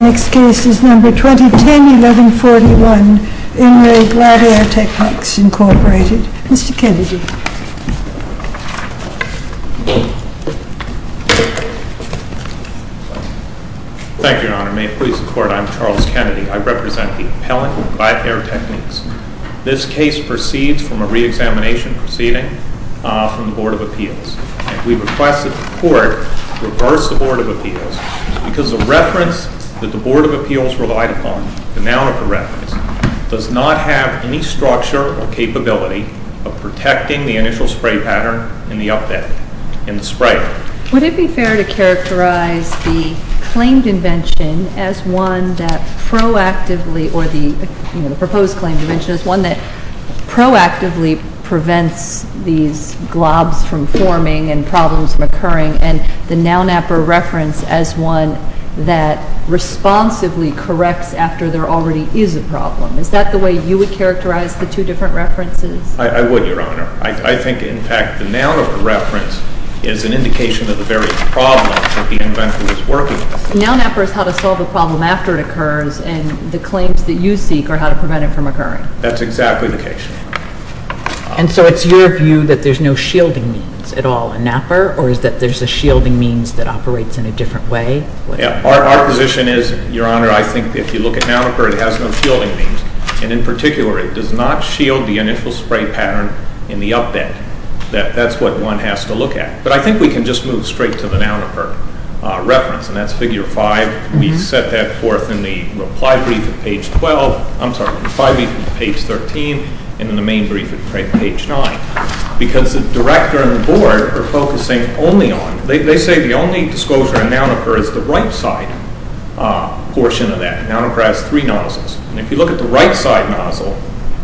Next case is number 2010-1141, Emory Glatt Air Techniques, Incorporated. Mr. Kennedy. Thank you, Your Honor. May it please the Court, I'm Charles Kennedy. I represent the appellant, Glatt Air Techniques. This case proceeds from a re-examination proceeding from the Board of Appeals. We request that the Court reverse the Board of Appeals because the reference that the Board of Appeals relied upon, the Nounapper reference, does not have any structure or capability of protecting the initial spray pattern in the spray. Would it be fair to characterize the claimed invention as one that proactively, or the proposed claimed invention as one that proactively prevents these globs from forming and as one that responsively corrects after there already is a problem? Is that the way you would characterize the two different references? I would, Your Honor. I think, in fact, the Nounapper reference is an indication of the very problem that the inventor was working with. Nounapper is how to solve a problem after it occurs, and the claims that you seek are how to prevent it from occurring. That's exactly the case. And so it's your view that there's no shielding means at all in NAPPER, or is that there's a shielding means that operates in a different way? Our position is, Your Honor, I think if you look at Nounapper, it has no shielding means. And in particular, it does not shield the initial spray pattern in the update. That's what one has to look at. But I think we can just move straight to the Nounapper reference, and that's Figure 5. We set that forth in the reply brief at page 12. I'm sorry, in the reply brief at page 13, and in the main brief at page 9. Because the director and the board are focusing only on, they say the only disclosure in Nounapper is the right side portion of that. Nounapper has three nozzles. And if you look at the right side nozzle,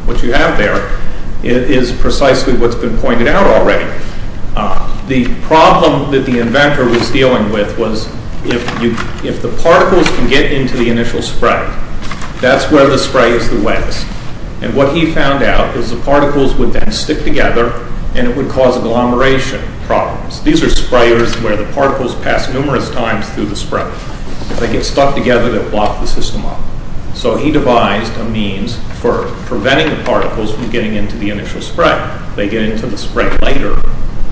what you have there is precisely what's been pointed out already. The problem that the inventor was dealing with was if the particles can get into the initial spray, that's where the spray is the wettest. And what he found out is the particles would then stick together, and it would cause agglomeration problems. These are sprayers where the particles pass numerous times through the spray. They get stuck together, they block the system up. So he devised a means for preventing the particles from getting into the initial spray. They get into the spray later,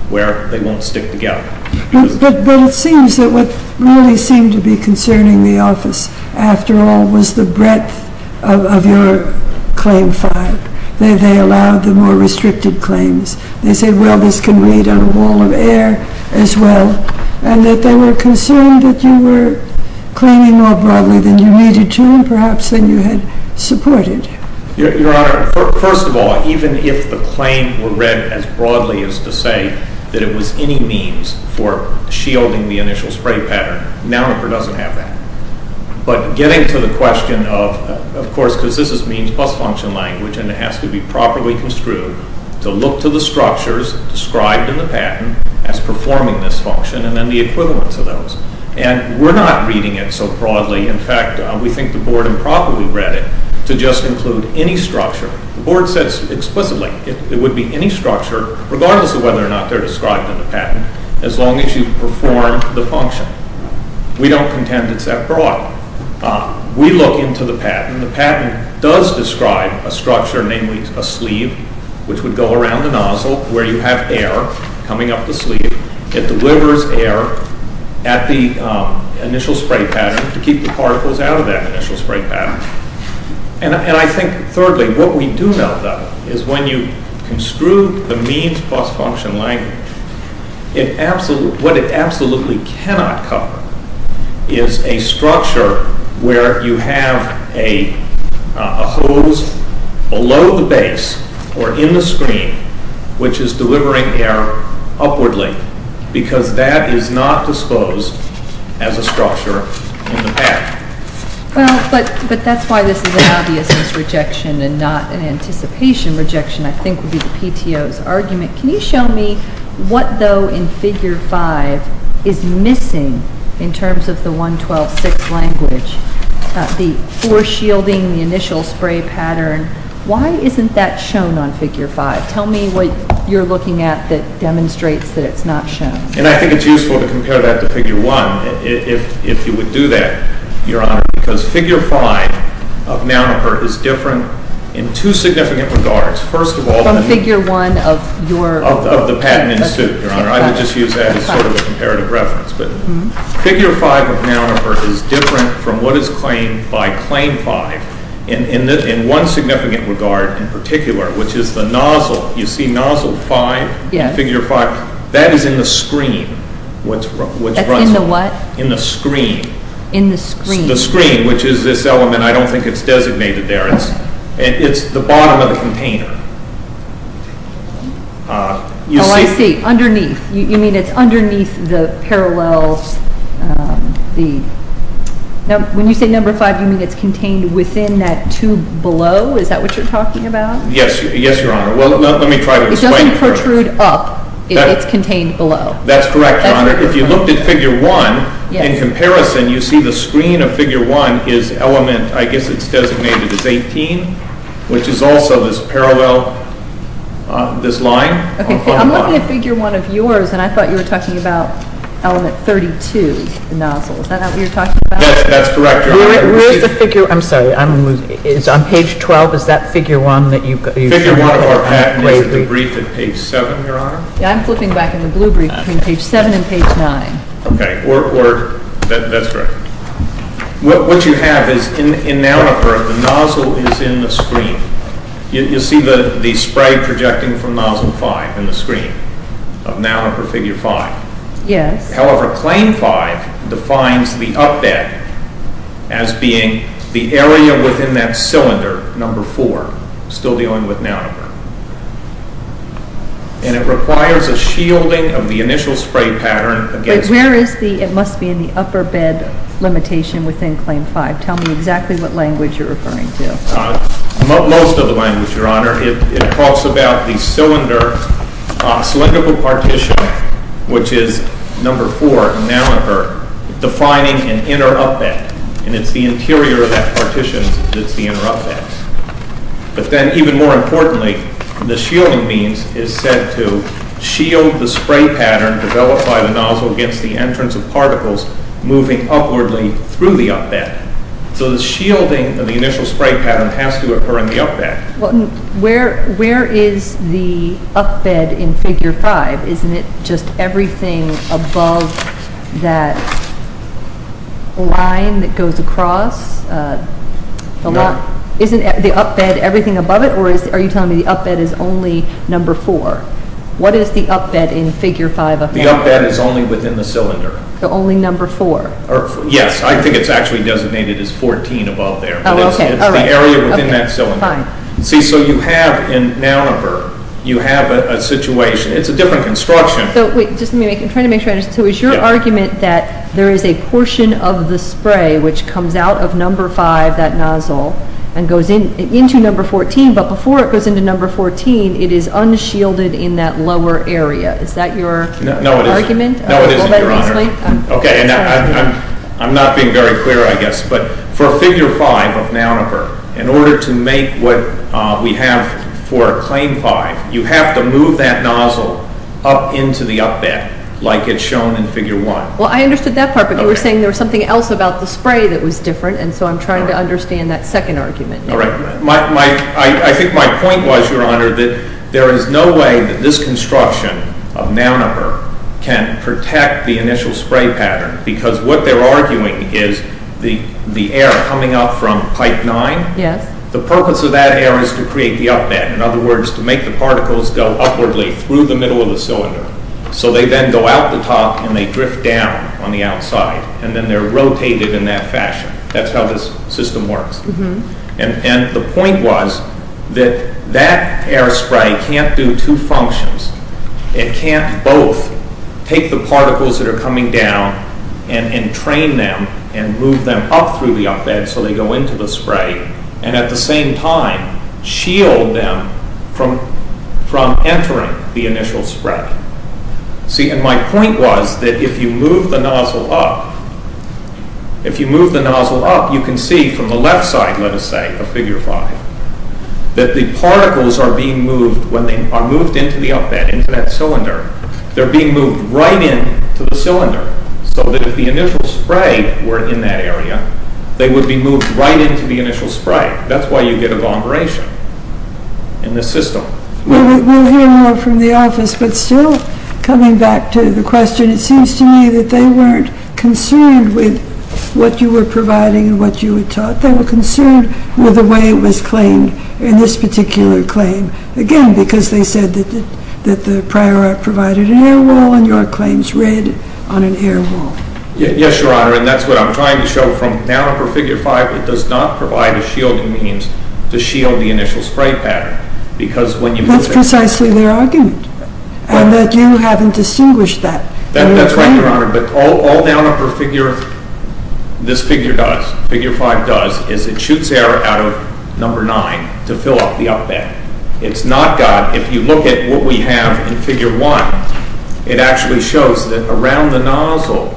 where they won't stick together. But it seems that what really seemed to be concerning the office, after all, was the breadth of your claim file. They allowed the more restricted claims. They said, well, this can read on a wall of air as well. And that they were concerned that you were claiming more broadly than you needed to, and perhaps than you had supported. Your Honor, first of all, even if the claim were read as broadly as to say that it was any means for shielding the initial spray pattern, NAMRFR doesn't have that. But getting to the question of, of course, because this is means plus function language, and it has to be properly construed. To look to the structures described in the patent as performing this function, and then the equivalence of those. And we're not reading it so broadly. In fact, we think the board improbably read it to just include any structure. The board says explicitly, it would be any structure, regardless of whether or not they're described in the patent, as long as you perform the function. We don't contend it's that broad. We look into the patent, the patent does describe a structure, namely a sleeve, which would go around the nozzle where you have air coming up the sleeve. It delivers air at the initial spray pattern to keep the particles out of that initial spray pattern. And I think, thirdly, what we do know, though, is when you construe the means plus function language, what it absolutely cannot cover is a structure where you have a hose below the base or in the screen, which is delivering air upwardly, because that is not disposed as a structure in the patent. Well, but that's why this is an obviousness rejection and not an anticipation rejection, I think, would be the PTO's argument. Can you show me what, though, in Figure 5 is missing in terms of the 112.6 language? The foreshielding, the initial spray pattern, why isn't that shown on Figure 5? Tell me what you're looking at that demonstrates that it's not shown. And I think it's useful to compare that to Figure 1, if you would do that, Your Honor, because Figure 5 of Nounoper is different in two significant regards. First of all- From Figure 1 of your- Of the patent in suit, Your Honor. I would just use that as sort of a comparative reference. But Figure 5 of Nounoper is different from what is claimed by Claim 5 in one significant regard in particular, which is the nozzle. You see Nozzle 5 in Figure 5. That is in the screen, which runs- That's in the what? In the screen. In the screen. The screen, which is this element. I don't think it's designated there. It's the bottom of the container. Oh, I see. Underneath. You mean it's underneath the parallels, the- When you say Number 5, you mean it's contained within that tube below? Is that what you're talking about? Yes, Your Honor. Well, let me try to explain- It doesn't protrude up. It's contained below. That's correct, Your Honor. If you looked at Figure 1, in comparison, you see the screen of Figure 1 is element- I guess it's designated as 18, which is also this parallel, this line. I'm looking at Figure 1 of yours, and I thought you were talking about element 32, the nozzle. Is that what you're talking about? Yes, that's correct, Your Honor. Where is the figure- I'm sorry. On Page 12, is that Figure 1 that you- Figure 1 of our patent is the brief at Page 7, Your Honor. I'm flipping back in the blue brief between Page 7 and Page 9. Okay. That's correct. What you have is, in Nalipur, the nozzle is in the screen. You'll see the spray projecting from Nozzle 5 in the screen of Nalipur Figure 5. Yes. However, Claim 5 defines the up bed as being the area within that cylinder, Number 4, still dealing with Nalipur. And it requires a shielding of the initial spray pattern against- But where is the- it must be in the upper bed limitation within Claim 5. Tell me exactly what language you're referring to. Most of the language, Your Honor. It talks about the cylindrical partition, which is Number 4 in Nalipur, defining an inner up bed. And it's the interior of that partition that's the inner up bed. But then, even more importantly, the shielding means is said to shield the spray pattern developed by the nozzle against the entrance of particles moving upwardly through the up bed. So the shielding of the initial spray pattern has to occur in the up bed. Well, where is the up bed in Figure 5? Isn't it just everything above that line that goes across? No. Isn't the up bed everything above it? Or are you telling me the up bed is only Number 4? What is the up bed in Figure 5? The up bed is only within the cylinder. So only Number 4? Yes. I think it's actually designated as 14 above there. Oh, okay. It's the area within that cylinder. Fine. See, so you have in Nalipur, you have a situation. It's a different construction. So wait, just let me make, I'm trying to make sure I understand. So is your argument that there is a portion of the spray which comes out of Number 5, that nozzle, and goes into Number 14, but before it goes into Number 14, it is unshielded in that lower area? Is that your argument? No, it isn't, Your Honor. Okay, and I'm not being very clear, I guess. But for Figure 5 of Nalipur, in order to make what we have for Claim 5, you have to move that nozzle up into the up bed like it's shown in Figure 1. Well, I understood that part, but you were saying there was something else about the spray that was different, and so I'm trying to understand that second argument. All right. I think my point was, Your Honor, that there is no way that this construction of Nalipur can protect the initial spray pattern, because what they're arguing is the air coming up from Pipe 9, the purpose of that air is to create the up bed, in other words, to make the particles go upwardly through the middle of the cylinder. So they then go out the top and they drift down on the outside, and then they're rotated in that fashion. That's how this system works. And the point was that that air spray can't do two functions. It can't both take the particles that are coming down and train them and move them up through the up bed so they go into the spray, and at the same time shield them from entering the initial spray. See, and my point was that if you move the nozzle up, if you move the nozzle up, you can see from the left side, let us say, of Figure 5, that the particles are being moved. When they are moved into the up bed, into that cylinder, they're being moved right into the cylinder, so that if the initial spray were in that area, they would be moved right into the initial spray. That's why you get evaporation in this system. Well, we'll hear more from the office, but still coming back to the question, it seems to me that they weren't concerned with what you were providing and what you had taught. They were concerned with the way it was claimed in this particular claim. Again, because they said that the prior art provided an air wall, and your claims read on an air wall. Yes, Your Honor, and that's what I'm trying to show. From now on for Figure 5, it does not provide a shielding means to shield the initial spray pattern. That's precisely their argument, and that you haven't distinguished that. That's right, Your Honor, but all Down Upper Figure, this Figure does, Figure 5 does, is it shoots air out of Number 9 to fill up the up bed. It's not got, if you look at what we have in Figure 1, it actually shows that around the nozzle,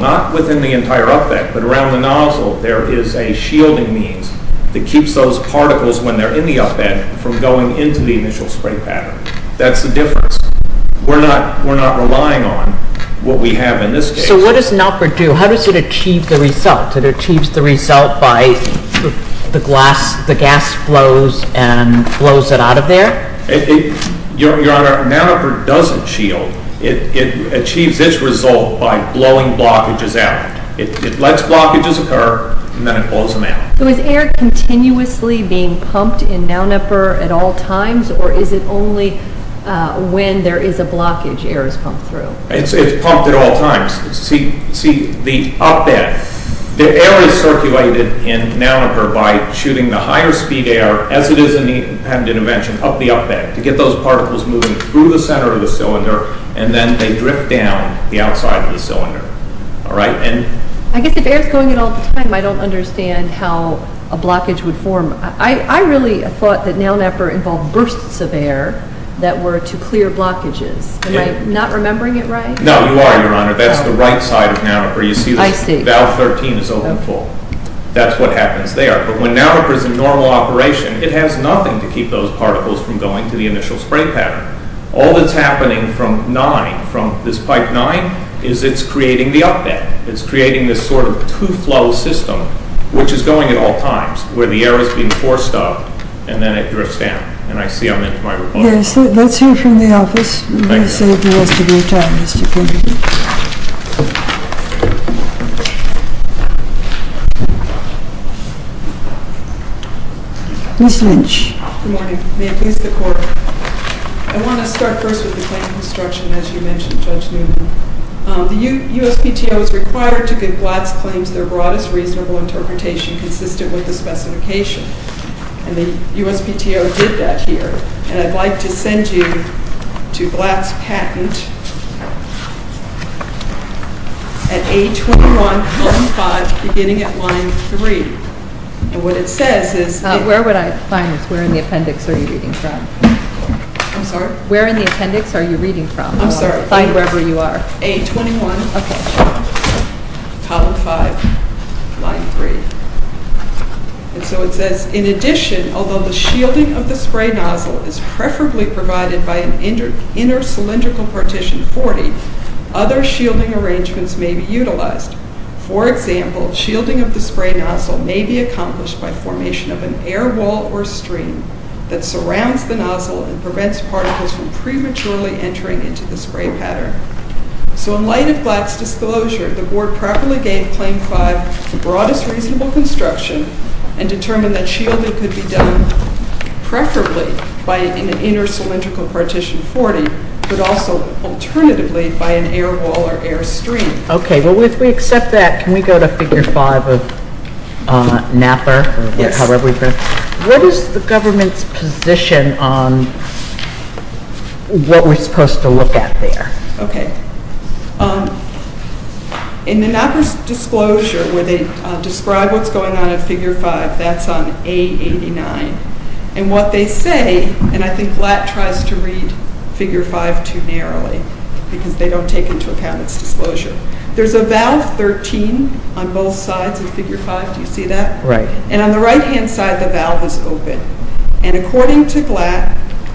not within the entire up bed, but around the nozzle, there is a shielding means that keeps those particles, when they're in the up bed, from going into the initial spray pattern. That's the difference. We're not relying on what we have in this case. So what does an upper do? How does it achieve the result? It achieves the result by the gas flows and blows it out of there? Your Honor, an upper doesn't shield. It achieves its result by blowing blockages out. It lets blockages occur, and then it blows them out. So is air continuously being pumped in Down Upper at all times, or is it only when there is a blockage air is pumped through? It's pumped at all times. See the up bed. The air is circulated in Down Upper by shooting the higher speed air, as it is in the independent invention, up the up bed, to get those particles moving through the center of the cylinder, and then they drift down the outside of the cylinder. I guess if air is going in all the time, I don't understand how a blockage would form. I really thought that Down Upper involved bursts of air that were to clear blockages. Am I not remembering it right? No, you are, Your Honor. That's the right side of Down Upper. You see this valve 13 is open full. That's what happens there. But when Down Upper is in normal operation, it has nothing to keep those particles from going to the initial spray pattern. All that's happening from this pipe 9 is it's creating the up bed. It's creating this sort of two-flow system, which is going at all times, where the air is being forced up, and then it drifts down. I see I'm into my report. Let's hear from the office. Ms. Lynch. Good morning. May it please the Court. I want to start first with the claim of construction, as you mentioned, Judge Newman. The USPTO is required to give Blatt's claims their broadest reasonable interpretation consistent with the specification. And the USPTO did that here. And I'd like to send you to Blatt's patent at A21, column 5, beginning at line 3. And what it says is that Where would I find this? Where in the appendix are you reading from? I'm sorry? Where in the appendix are you reading from? I'm sorry. Find wherever you are. A21. Okay. Column 5, line 3. And so it says, In addition, although the shielding of the spray nozzle is preferably provided by an inner cylindrical partition 40, other shielding arrangements may be utilized. For example, shielding of the spray nozzle may be accomplished by formation of an air wall or stream that surrounds the nozzle and prevents particles from prematurely entering into the spray pattern. So in light of Blatt's disclosure, the Board properly gave Claim 5 the broadest reasonable construction and determined that shielding could be done preferably by an inner cylindrical partition 40, but also alternatively by an air wall or air stream. Okay. Well, if we accept that, can we go to Figure 5 of Knapper? Yes. What is the government's position on what we're supposed to look at there? Okay. In the Knapper's disclosure, where they describe what's going on in Figure 5, that's on A89. And what they say, and I think Blatt tries to read Figure 5 too narrowly because they don't take into account its disclosure. There's a valve 13 on both sides of Figure 5. Do you see that? Right. And on the right-hand side, the valve is open. And according to Knapper,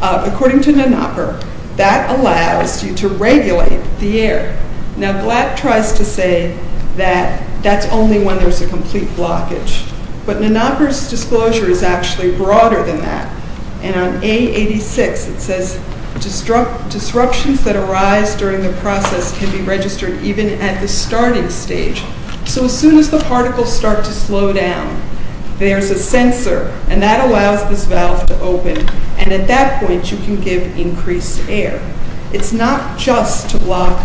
that allows you to regulate the air. Now, Blatt tries to say that that's only when there's a complete blockage. But Knapper's disclosure is actually broader than that. And on A86, it says disruptions that arise during the process can be registered even at the starting stage. So as soon as the particles start to slow down, there's a sensor, and that allows this valve to open. And at that point, you can give increased air. It's not just to block,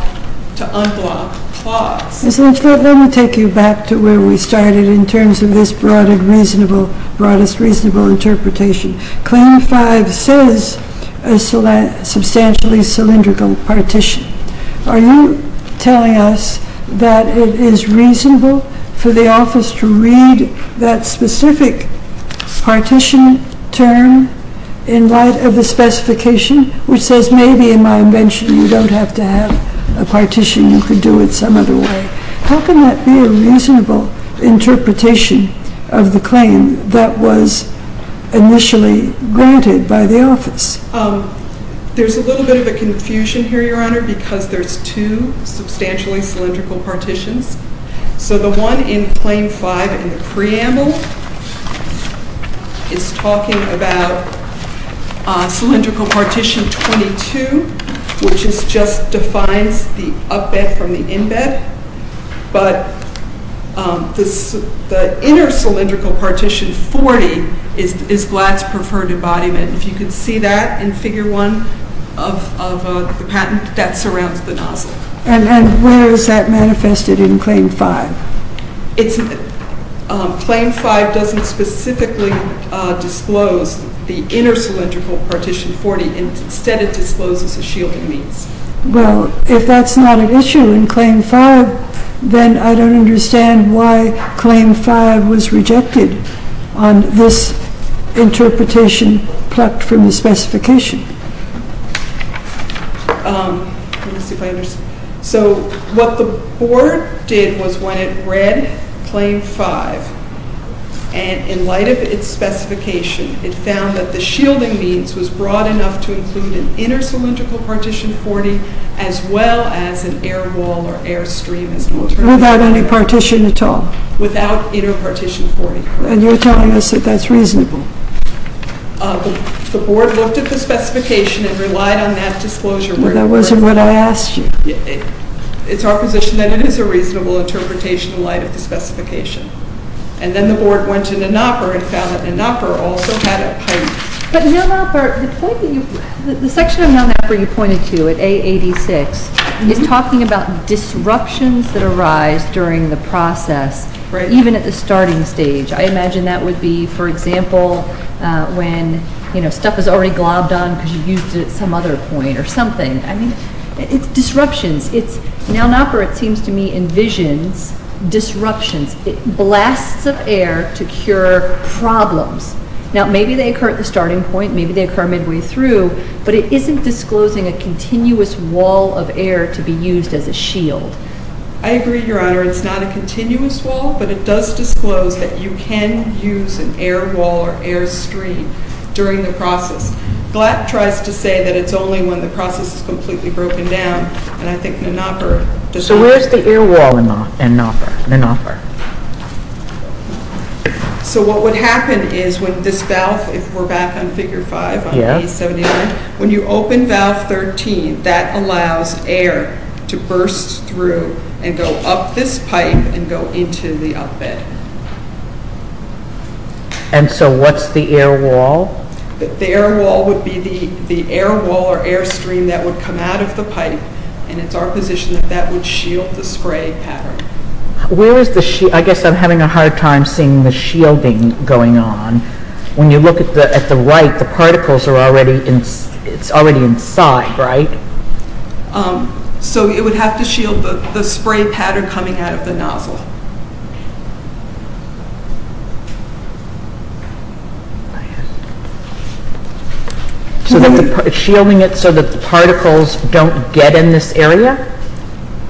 to unblock clogs. Ms. Lynchfield, let me take you back to where we started in terms of this broadest reasonable interpretation. Claim 5 says a substantially cylindrical partition. Are you telling us that it is reasonable for the office to read that specific partition term in light of the specification, which says maybe in my invention you don't have to have a partition. You could do it some other way. How can that be a reasonable interpretation of the claim that was initially granted by the office? There's a little bit of a confusion here, Your Honor, because there's two substantially cylindrical partitions. So the one in Claim 5 in the preamble is talking about cylindrical partition 22, which just defines the up-bed from the in-bed. But the inner cylindrical partition 40 is Glatt's preferred embodiment. If you can see that in Figure 1 of the patent, that surrounds the nozzle. And where is that manifested in Claim 5? Claim 5 doesn't specifically disclose the inner cylindrical partition 40. Instead, it discloses the shielding means. Well, if that's not an issue in Claim 5, then I don't understand why Claim 5 was rejected on this interpretation plucked from the specification. So what the Board did was when it read Claim 5, and in light of its specification, it found that the shielding means was broad enough to include an inner cylindrical partition 40 as well as an air wall or air stream. Without any partition at all? Without inner partition 40. And you're telling us that that's reasonable? The Board looked at the specification and relied on that disclosure. Well, that wasn't what I asked you. It's our position that it is a reasonable interpretation in light of the specification. And then the Board went to Nell Nopper and found that Nell Nopper also had a point. But Nell Nopper, the section of Nell Nopper you pointed to at A86 is talking about disruptions that arise during the process, even at the starting stage. I imagine that would be, for example, when stuff is already globbed on because you used it at some other point or something. I mean, it's disruptions. Nell Nopper, it seems to me, envisions disruptions. It blasts up air to cure problems. Now, maybe they occur at the starting point. Maybe they occur midway through. But it isn't disclosing a continuous wall of air to be used as a shield. I agree, Your Honor. It's not a continuous wall, but it does disclose that you can use an air wall or air stream during the process. Glatt tries to say that it's only when the process is completely broken down. And I think Nell Nopper disagrees. So where is the air wall in Nopper? So what would happen is when this valve, if we're back on figure 5 on A71, when you open valve 13, that allows air to burst through and go up this pipe and go into the up bed. And so what's the air wall? The air wall would be the air wall or air stream that would come out of the pipe, and it's our position that that would shield the spray pattern. Where is the shield? I guess I'm having a hard time seeing the shielding going on. When you look at the right, the particles are already inside, right? So it would have to shield the spray pattern coming out of the nozzle. So it's shielding it so that the particles don't get in this area?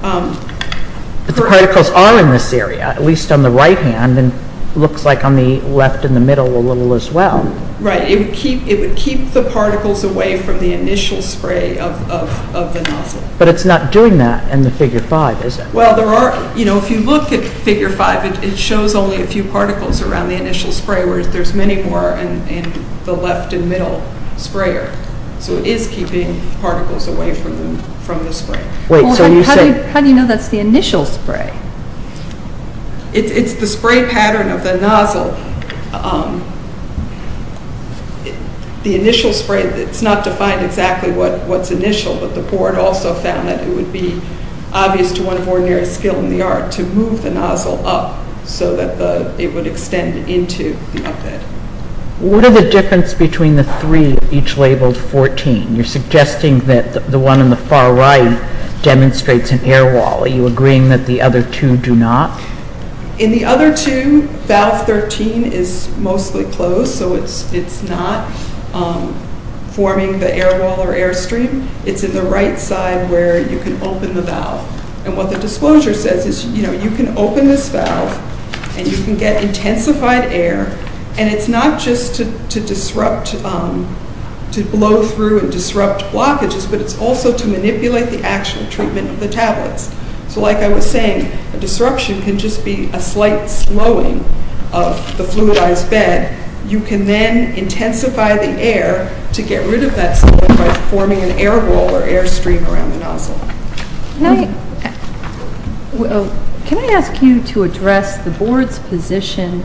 But the particles are in this area, at least on the right hand, and it looks like on the left in the middle a little as well. Right. It would keep the particles away from the initial spray of the nozzle. But it's not doing that in the figure 5, is it? Well, if you look at figure 5, it shows only a few particles around the initial spray, whereas there's many more in the left and middle sprayer. So it is keeping particles away from the spray. How do you know that's the initial spray? It's the spray pattern of the nozzle. The initial spray, it's not defined exactly what's initial, but the board also found that it would be obvious to one of ordinary skill in the art to move the nozzle up so that it would extend into the uphead. What are the differences between the three, each labeled 14? You're suggesting that the one on the far right demonstrates an air wall. Are you agreeing that the other two do not? In the other two, valve 13 is mostly closed, so it's not forming the air wall or air stream. It's in the right side where you can open the valve. And what the disclosure says is you can open this valve and you can get intensified air, and it's not just to blow through and disrupt blockages, but it's also to manipulate the actual treatment of the tablets. So like I was saying, a disruption can just be a slight slowing of the fluidized bed. You can then intensify the air to get rid of that slope by forming an air wall or air stream around the nozzle. Can I ask you to address the board's position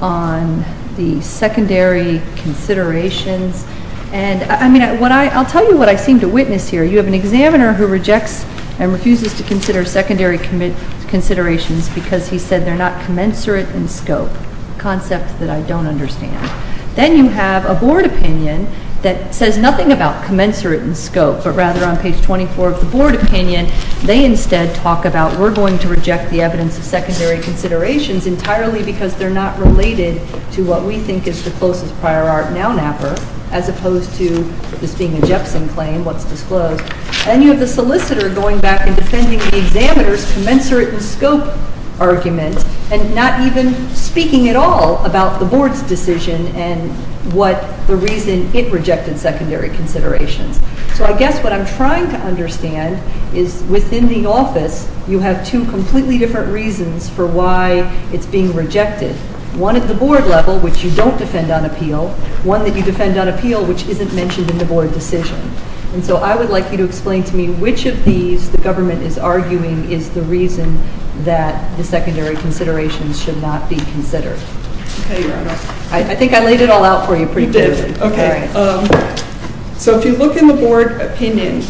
on the secondary considerations? I'll tell you what I seem to witness here. You have an examiner who rejects and refuses to consider secondary considerations because he said they're not commensurate in scope, a concept that I don't understand. Then you have a board opinion that says nothing about commensurate in scope, but rather on page 24 of the board opinion they instead talk about we're going to reject the evidence of secondary considerations entirely because they're not related to what we think is the closest prior art noun apper, as opposed to this being a Jepson claim, what's disclosed. Then you have the solicitor going back and defending the examiner's commensurate in scope argument and not even speaking at all about the board's decision and what the reason it rejected secondary considerations. So I guess what I'm trying to understand is within the office you have two completely different reasons for why it's being rejected. One at the board level, which you don't defend on appeal. One that you defend on appeal, which isn't mentioned in the board decision. And so I would like you to explain to me which of these the government is arguing is the reason that the secondary considerations should not be considered. Okay, Your Honor. I think I laid it all out for you pretty clearly. You did. Okay. All right. So if you look in the board opinion,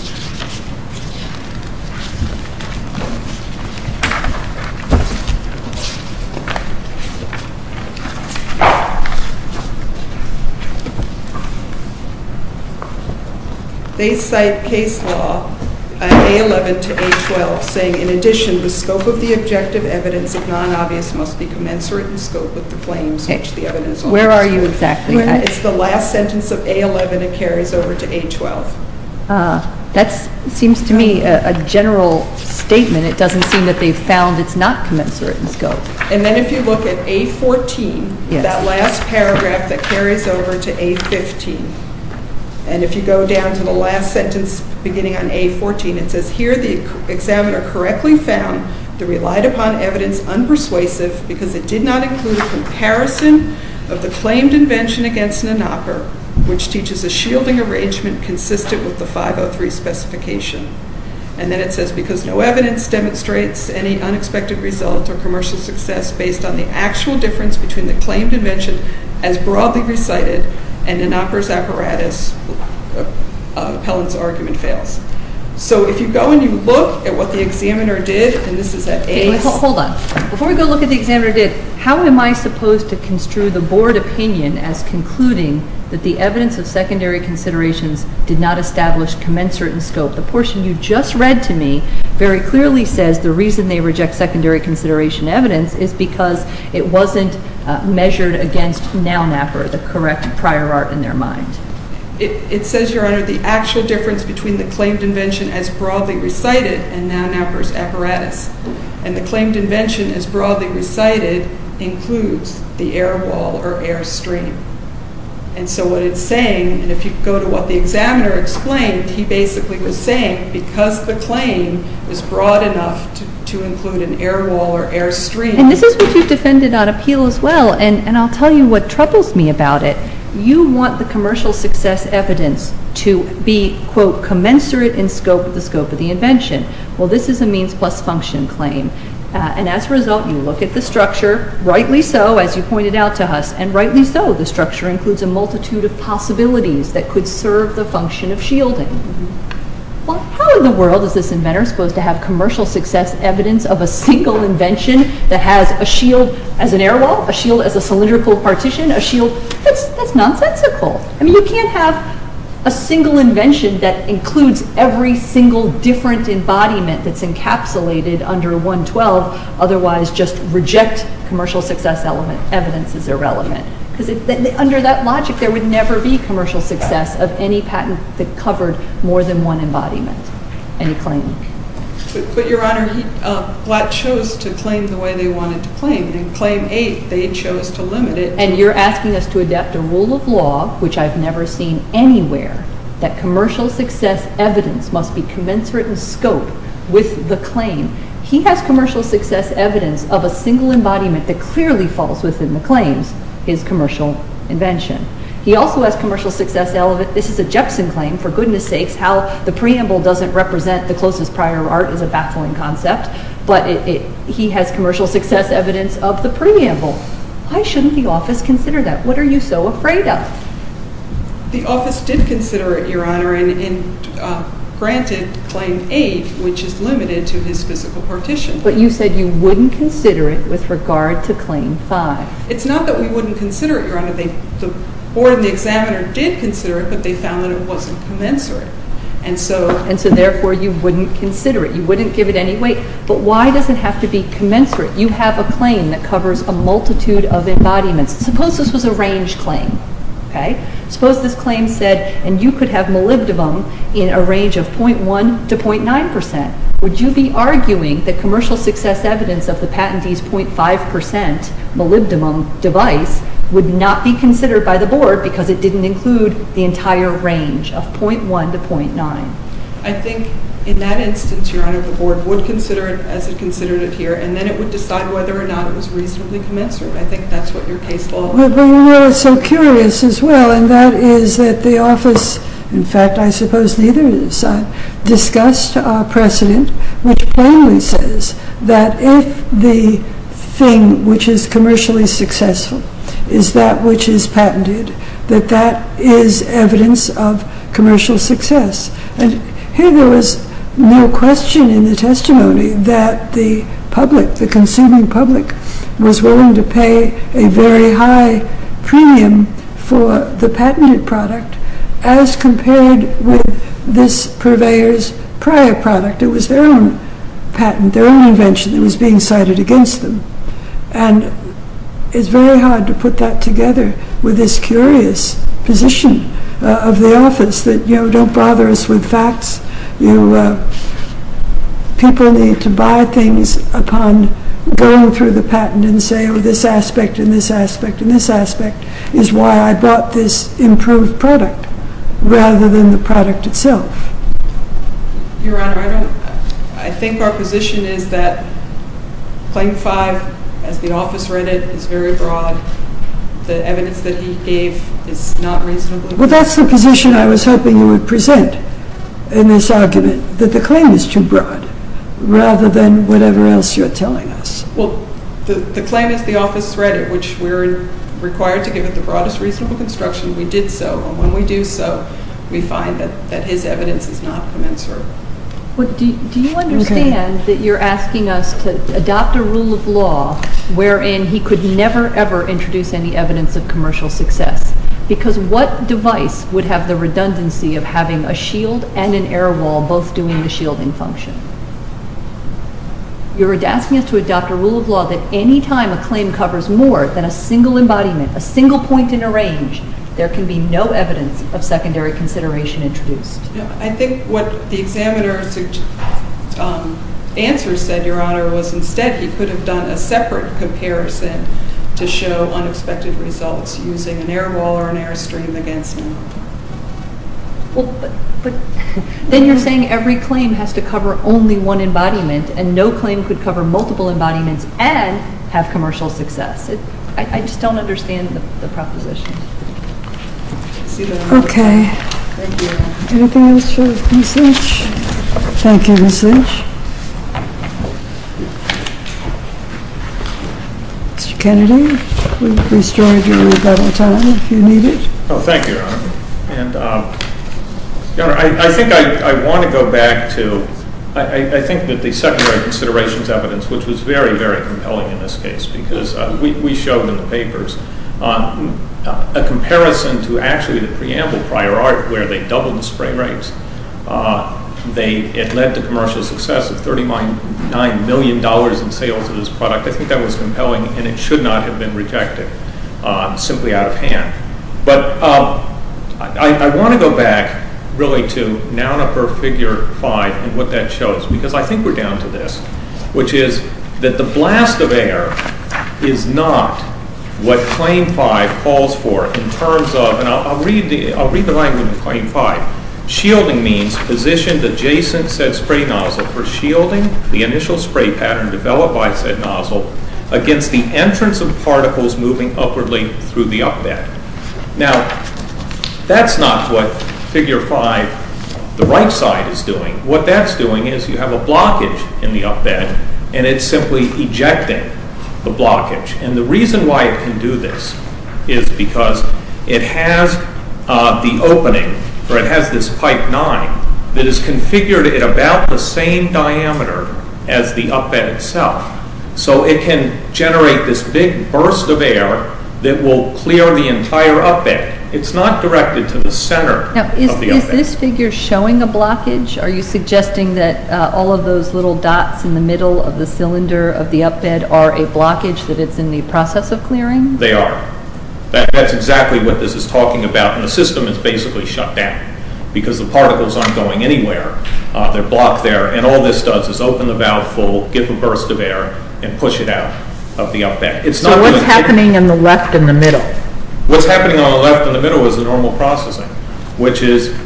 they cite case law, A11 to A12, saying, in addition, the scope of the objective evidence, if non-obvious, must be commensurate in scope with the claims which the evidence... Where are you exactly? It's the last sentence of A11 that carries over to A12. That seems to me a general statement. It doesn't seem that they've found it's not commensurate in scope. And then if you look at A14, that last paragraph that carries over to A15, and if you go down to the last sentence beginning on A14, it says, here the examiner correctly found the relied-upon evidence unpersuasive because it did not include a comparison of the claimed invention against NANOPR, which teaches a shielding arrangement consistent with the 503 specification. And then it says, because no evidence demonstrates any unexpected result or commercial success based on the actual difference between the claimed invention as broadly recited and NANOPR's apparatus of appellant's argument fails. So if you go and you look at what the examiner did, and this is at A... Hold on. Before we go look at what the examiner did, how am I supposed to construe the board opinion as concluding that the evidence of secondary considerations did not establish commensurate in scope? The portion you just read to me very clearly says the reason they reject secondary consideration evidence is because it wasn't measured against NANOPR, the correct prior art in their mind. It says, Your Honor, the actual difference between the claimed invention as broadly recited and NANOPR's apparatus, and the claimed invention as broadly recited includes the air wall or air stream. And so what it's saying, and if you go to what the examiner explained, he basically was saying because the claim is broad enough to include an air wall or air stream... And this is what you've defended on appeal as well, and I'll tell you what troubles me about it. You want the commercial success evidence to be, quote, commensurate in scope with the scope of the invention. Well, this is a means plus function claim. And as a result, you look at the structure, rightly so, as you pointed out to us, and rightly so, the structure includes a multitude of possibilities that could serve the function of shielding. Well, how in the world is this inventor supposed to have commercial success evidence of a single invention that has a shield as an air wall, a shield as a cylindrical partition, a shield? That's nonsensical. I mean, you can't have a single invention that includes every single different embodiment that's encapsulated under 112, otherwise just reject commercial success evidence as irrelevant. Because under that logic, there would never be commercial success of any patent that covered more than one embodiment, any claim. But, Your Honor, Blatt chose to claim the way they wanted to claim. In Claim 8, they chose to limit it. And you're asking us to adapt a rule of law, which I've never seen anywhere, that commercial success evidence must be commensurate in scope with the claim. He has commercial success evidence of a single embodiment that clearly falls within the claims, his commercial invention. He also has commercial success, this is a Jepson claim, for goodness sakes, how the preamble doesn't represent the closest prior art is a baffling concept. But he has commercial success evidence of the preamble. Why shouldn't the office consider that? What are you so afraid of? The office did consider it, Your Honor, and granted Claim 8, which is limited to his physical partition. But you said you wouldn't consider it with regard to Claim 5. It's not that we wouldn't consider it, Your Honor. The board and the examiner did consider it, but they found that it wasn't commensurate. And so, therefore, you wouldn't consider it. You wouldn't give it any weight. But why does it have to be commensurate? You have a claim that covers a multitude of embodiments. Suppose this was a range claim. Suppose this claim said, and you could have molybdenum in a range of 0.1 to 0.9 percent. Would you be arguing that commercial success evidence of the patentee's 0.5 percent molybdenum device would not be considered by the board because it didn't include the entire range of 0.1 to 0.9? I think, in that instance, Your Honor, the board would consider it as it considered it here, and then it would decide whether or not it was reasonably commensurate. I think that's what your case law would be. But we were so curious as well. And that is that the office, in fact, I suppose neither side, discussed a precedent which plainly says that if the thing which is commercially successful is that which is patented, that that is evidence of commercial success. And here there was no question in the testimony that the public, the consuming public, was willing to pay a very high premium for the patented product as compared with this purveyor's prior product. It was their own patent, their own invention that was being cited against them. And it's very hard to put that together with this curious position of the office that, you know, don't bother us with facts. People need to buy things upon going through the patent and say, oh, this aspect and this aspect and this aspect is why I bought this improved product rather than the product itself. Your Honor, I think our position is that Claim 5, as the office read it, is very broad. The evidence that he gave is not reasonably broad. Well, that's the position I was hoping you would present in this argument, that the claim is too broad rather than whatever else you're telling us. Well, the claim as the office read it, which we're required to give it the broadest reasonable construction, we did so. When we do so, we find that his evidence is not commensurate. Do you understand that you're asking us to adopt a rule of law wherein he could never, ever introduce any evidence of commercial success? Because what device would have the redundancy of having a shield and an air wall both doing the shielding function? You're asking us to adopt a rule of law that any time a claim covers more than a single embodiment, a single point in a range, there can be no evidence of secondary consideration introduced. I think what the examiner's answer said, Your Honor, was instead he could have done a separate comparison to show unexpected results using an air wall or an airstream against him. Then you're saying every claim has to cover only one embodiment and no claim could cover multiple embodiments and have commercial success. I just don't understand the proposition. Okay. Anything else for Ms. Lynch? Thank you, Ms. Lynch. Mr. Kennedy, we've restored your rebuttal time if you need it. Thank you, Your Honor. Your Honor, I think I want to go back to, I think that the secondary considerations evidence, which was very, very compelling in this case because we showed in the papers a comparison to actually the preamble prior art where they doubled the spray rates. It led to commercial success of $39 million in sales of this product. I think that was compelling, and it should not have been rejected simply out of hand. But I want to go back really to Nounoper Figure 5 and what that shows because I think we're down to this, which is that the blast of air is not what Claim 5 calls for in terms of, and I'll read the language of Claim 5. Shielding means positioned adjacent said spray nozzle for shielding the initial spray pattern developed by said nozzle against the entrance of particles moving upwardly through the up bed. Now, that's not what Figure 5, the right side, is doing. What that's doing is you have a blockage in the up bed, and it's simply ejecting the blockage. And the reason why it can do this is because it has the opening, or it has this pipe 9, that is configured at about the same diameter as the up bed itself. So it can generate this big burst of air that will clear the entire up bed. It's not directed to the center of the up bed. Is this figure showing a blockage? Are you suggesting that all of those little dots in the middle of the cylinder of the up bed are a blockage that it's in the process of clearing? They are. That's exactly what this is talking about. And the system is basically shut down because the particles aren't going anywhere. They're blocked there. And all this does is open the valve full, give a burst of air, and push it out of the up bed. So what's happening in the left and the middle? What's happening on the left and the middle is the normal processing, which is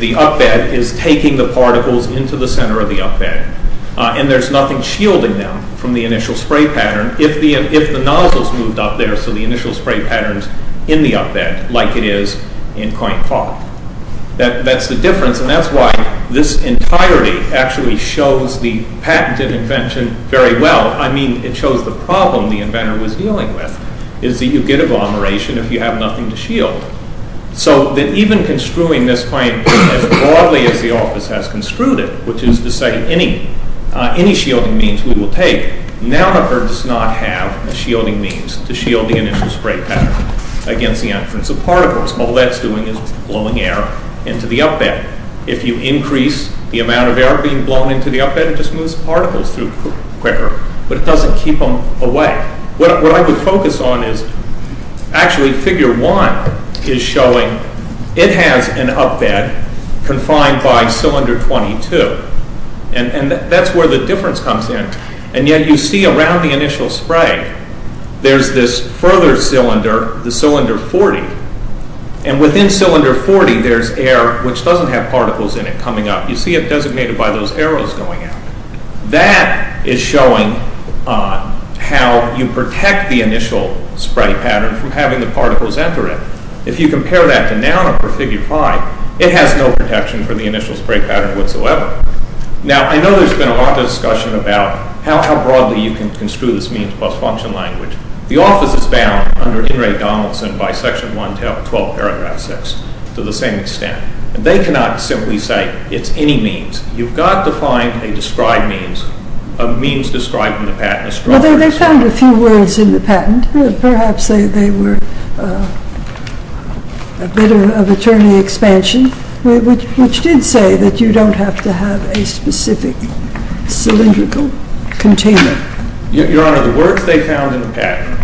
the up bed is taking the particles into the center of the up bed. And there's nothing shielding them from the initial spray pattern if the nozzle's moved up there so the initial spray pattern's in the up bed like it is in coin pop. That's the difference, and that's why this entirety actually shows the patented invention very well. I mean, it shows the problem the inventor was dealing with, is that you get agglomeration if you have nothing to shield. So that even construing this claim as broadly as the office has construed it, which is to say any shielding means we will take, Nauhert does not have a shielding means to shield the initial spray pattern against the entrance of particles. All that's doing is blowing air into the up bed. If you increase the amount of air being blown into the up bed, it just moves particles through quicker, but it doesn't keep them away. What I would focus on is actually figure one is showing it has an up bed confined by cylinder 22, and that's where the difference comes in. And yet you see around the initial spray there's this further cylinder, the cylinder 40, and within cylinder 40 there's air which doesn't have particles in it coming up. You see it designated by those arrows going out. That is showing how you protect the initial spray pattern from having the particles enter it. If you compare that to Nauhert for figure five, it has no protection for the initial spray pattern whatsoever. Now, I know there's been a lot of discussion about how broadly you can construe this means plus function language. The office is bound under Henry Donaldson by section 112 paragraph 6 to the same extent. They cannot simply say it's any means. You've got to find a described means, a means described in the patent. Well, they found a few words in the patent. Perhaps they were a bit of attorney expansion, which did say that you don't have to have a specific cylindrical container. Your Honor, the words they found in the patent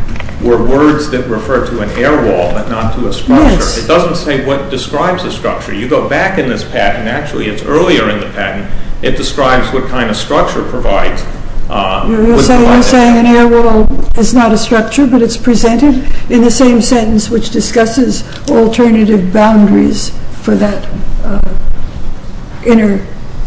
were words that referred to an air wall but not to a structure. It doesn't say what describes a structure. You go back in this patent. Actually, it's earlier in the patent. It describes what kind of structure provides. You're saying an air wall is not a structure, but it's presented in the same sentence, which discusses alternative boundaries for that inner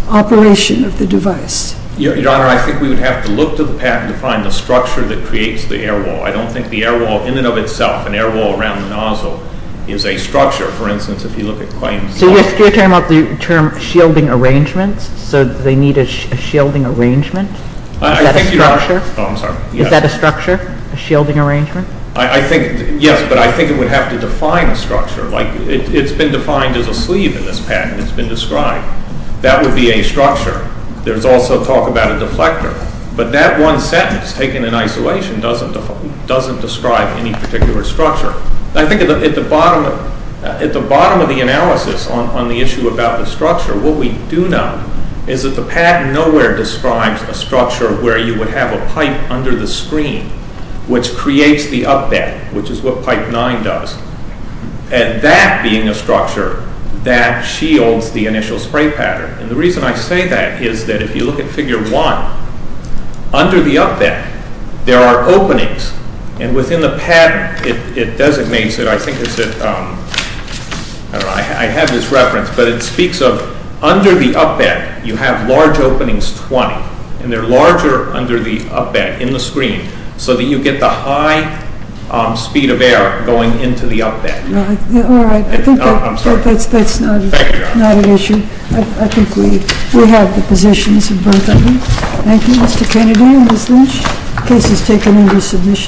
operation of the device. Your Honor, I think we would have to look to the patent to find the structure that creates the air wall. I don't think the air wall in and of itself, an air wall around the nozzle, is a structure. For instance, if you look at claims like- So you're talking about the term shielding arrangements? So they need a shielding arrangement? Is that a structure? Oh, I'm sorry. Is that a structure, a shielding arrangement? Yes, but I think it would have to define a structure. It's been defined as a sleeve in this patent. It's been described. That would be a structure. There's also talk about a deflector. But that one sentence, taken in isolation, doesn't describe any particular structure. I think at the bottom of the analysis on the issue about the structure, what we do know is that the patent nowhere describes a structure where you would have a pipe under the screen, which creates the up deck, which is what pipe 9 does. And that being a structure, that shields the initial spray pattern. And the reason I say that is that if you look at figure 1, under the up deck, there are openings. And within the patent, it designates it. I think it's at, I don't know, I have this reference, but it speaks of under the up deck, you have large openings, 20. And they're larger under the up deck, in the screen, so that you get the high speed of air going into the up deck. All right. I'm sorry. That's not an issue. I think we have the positions of both of them. Thank you, Mr. Kennedy and Ms. Lynch. The case is taken into submission.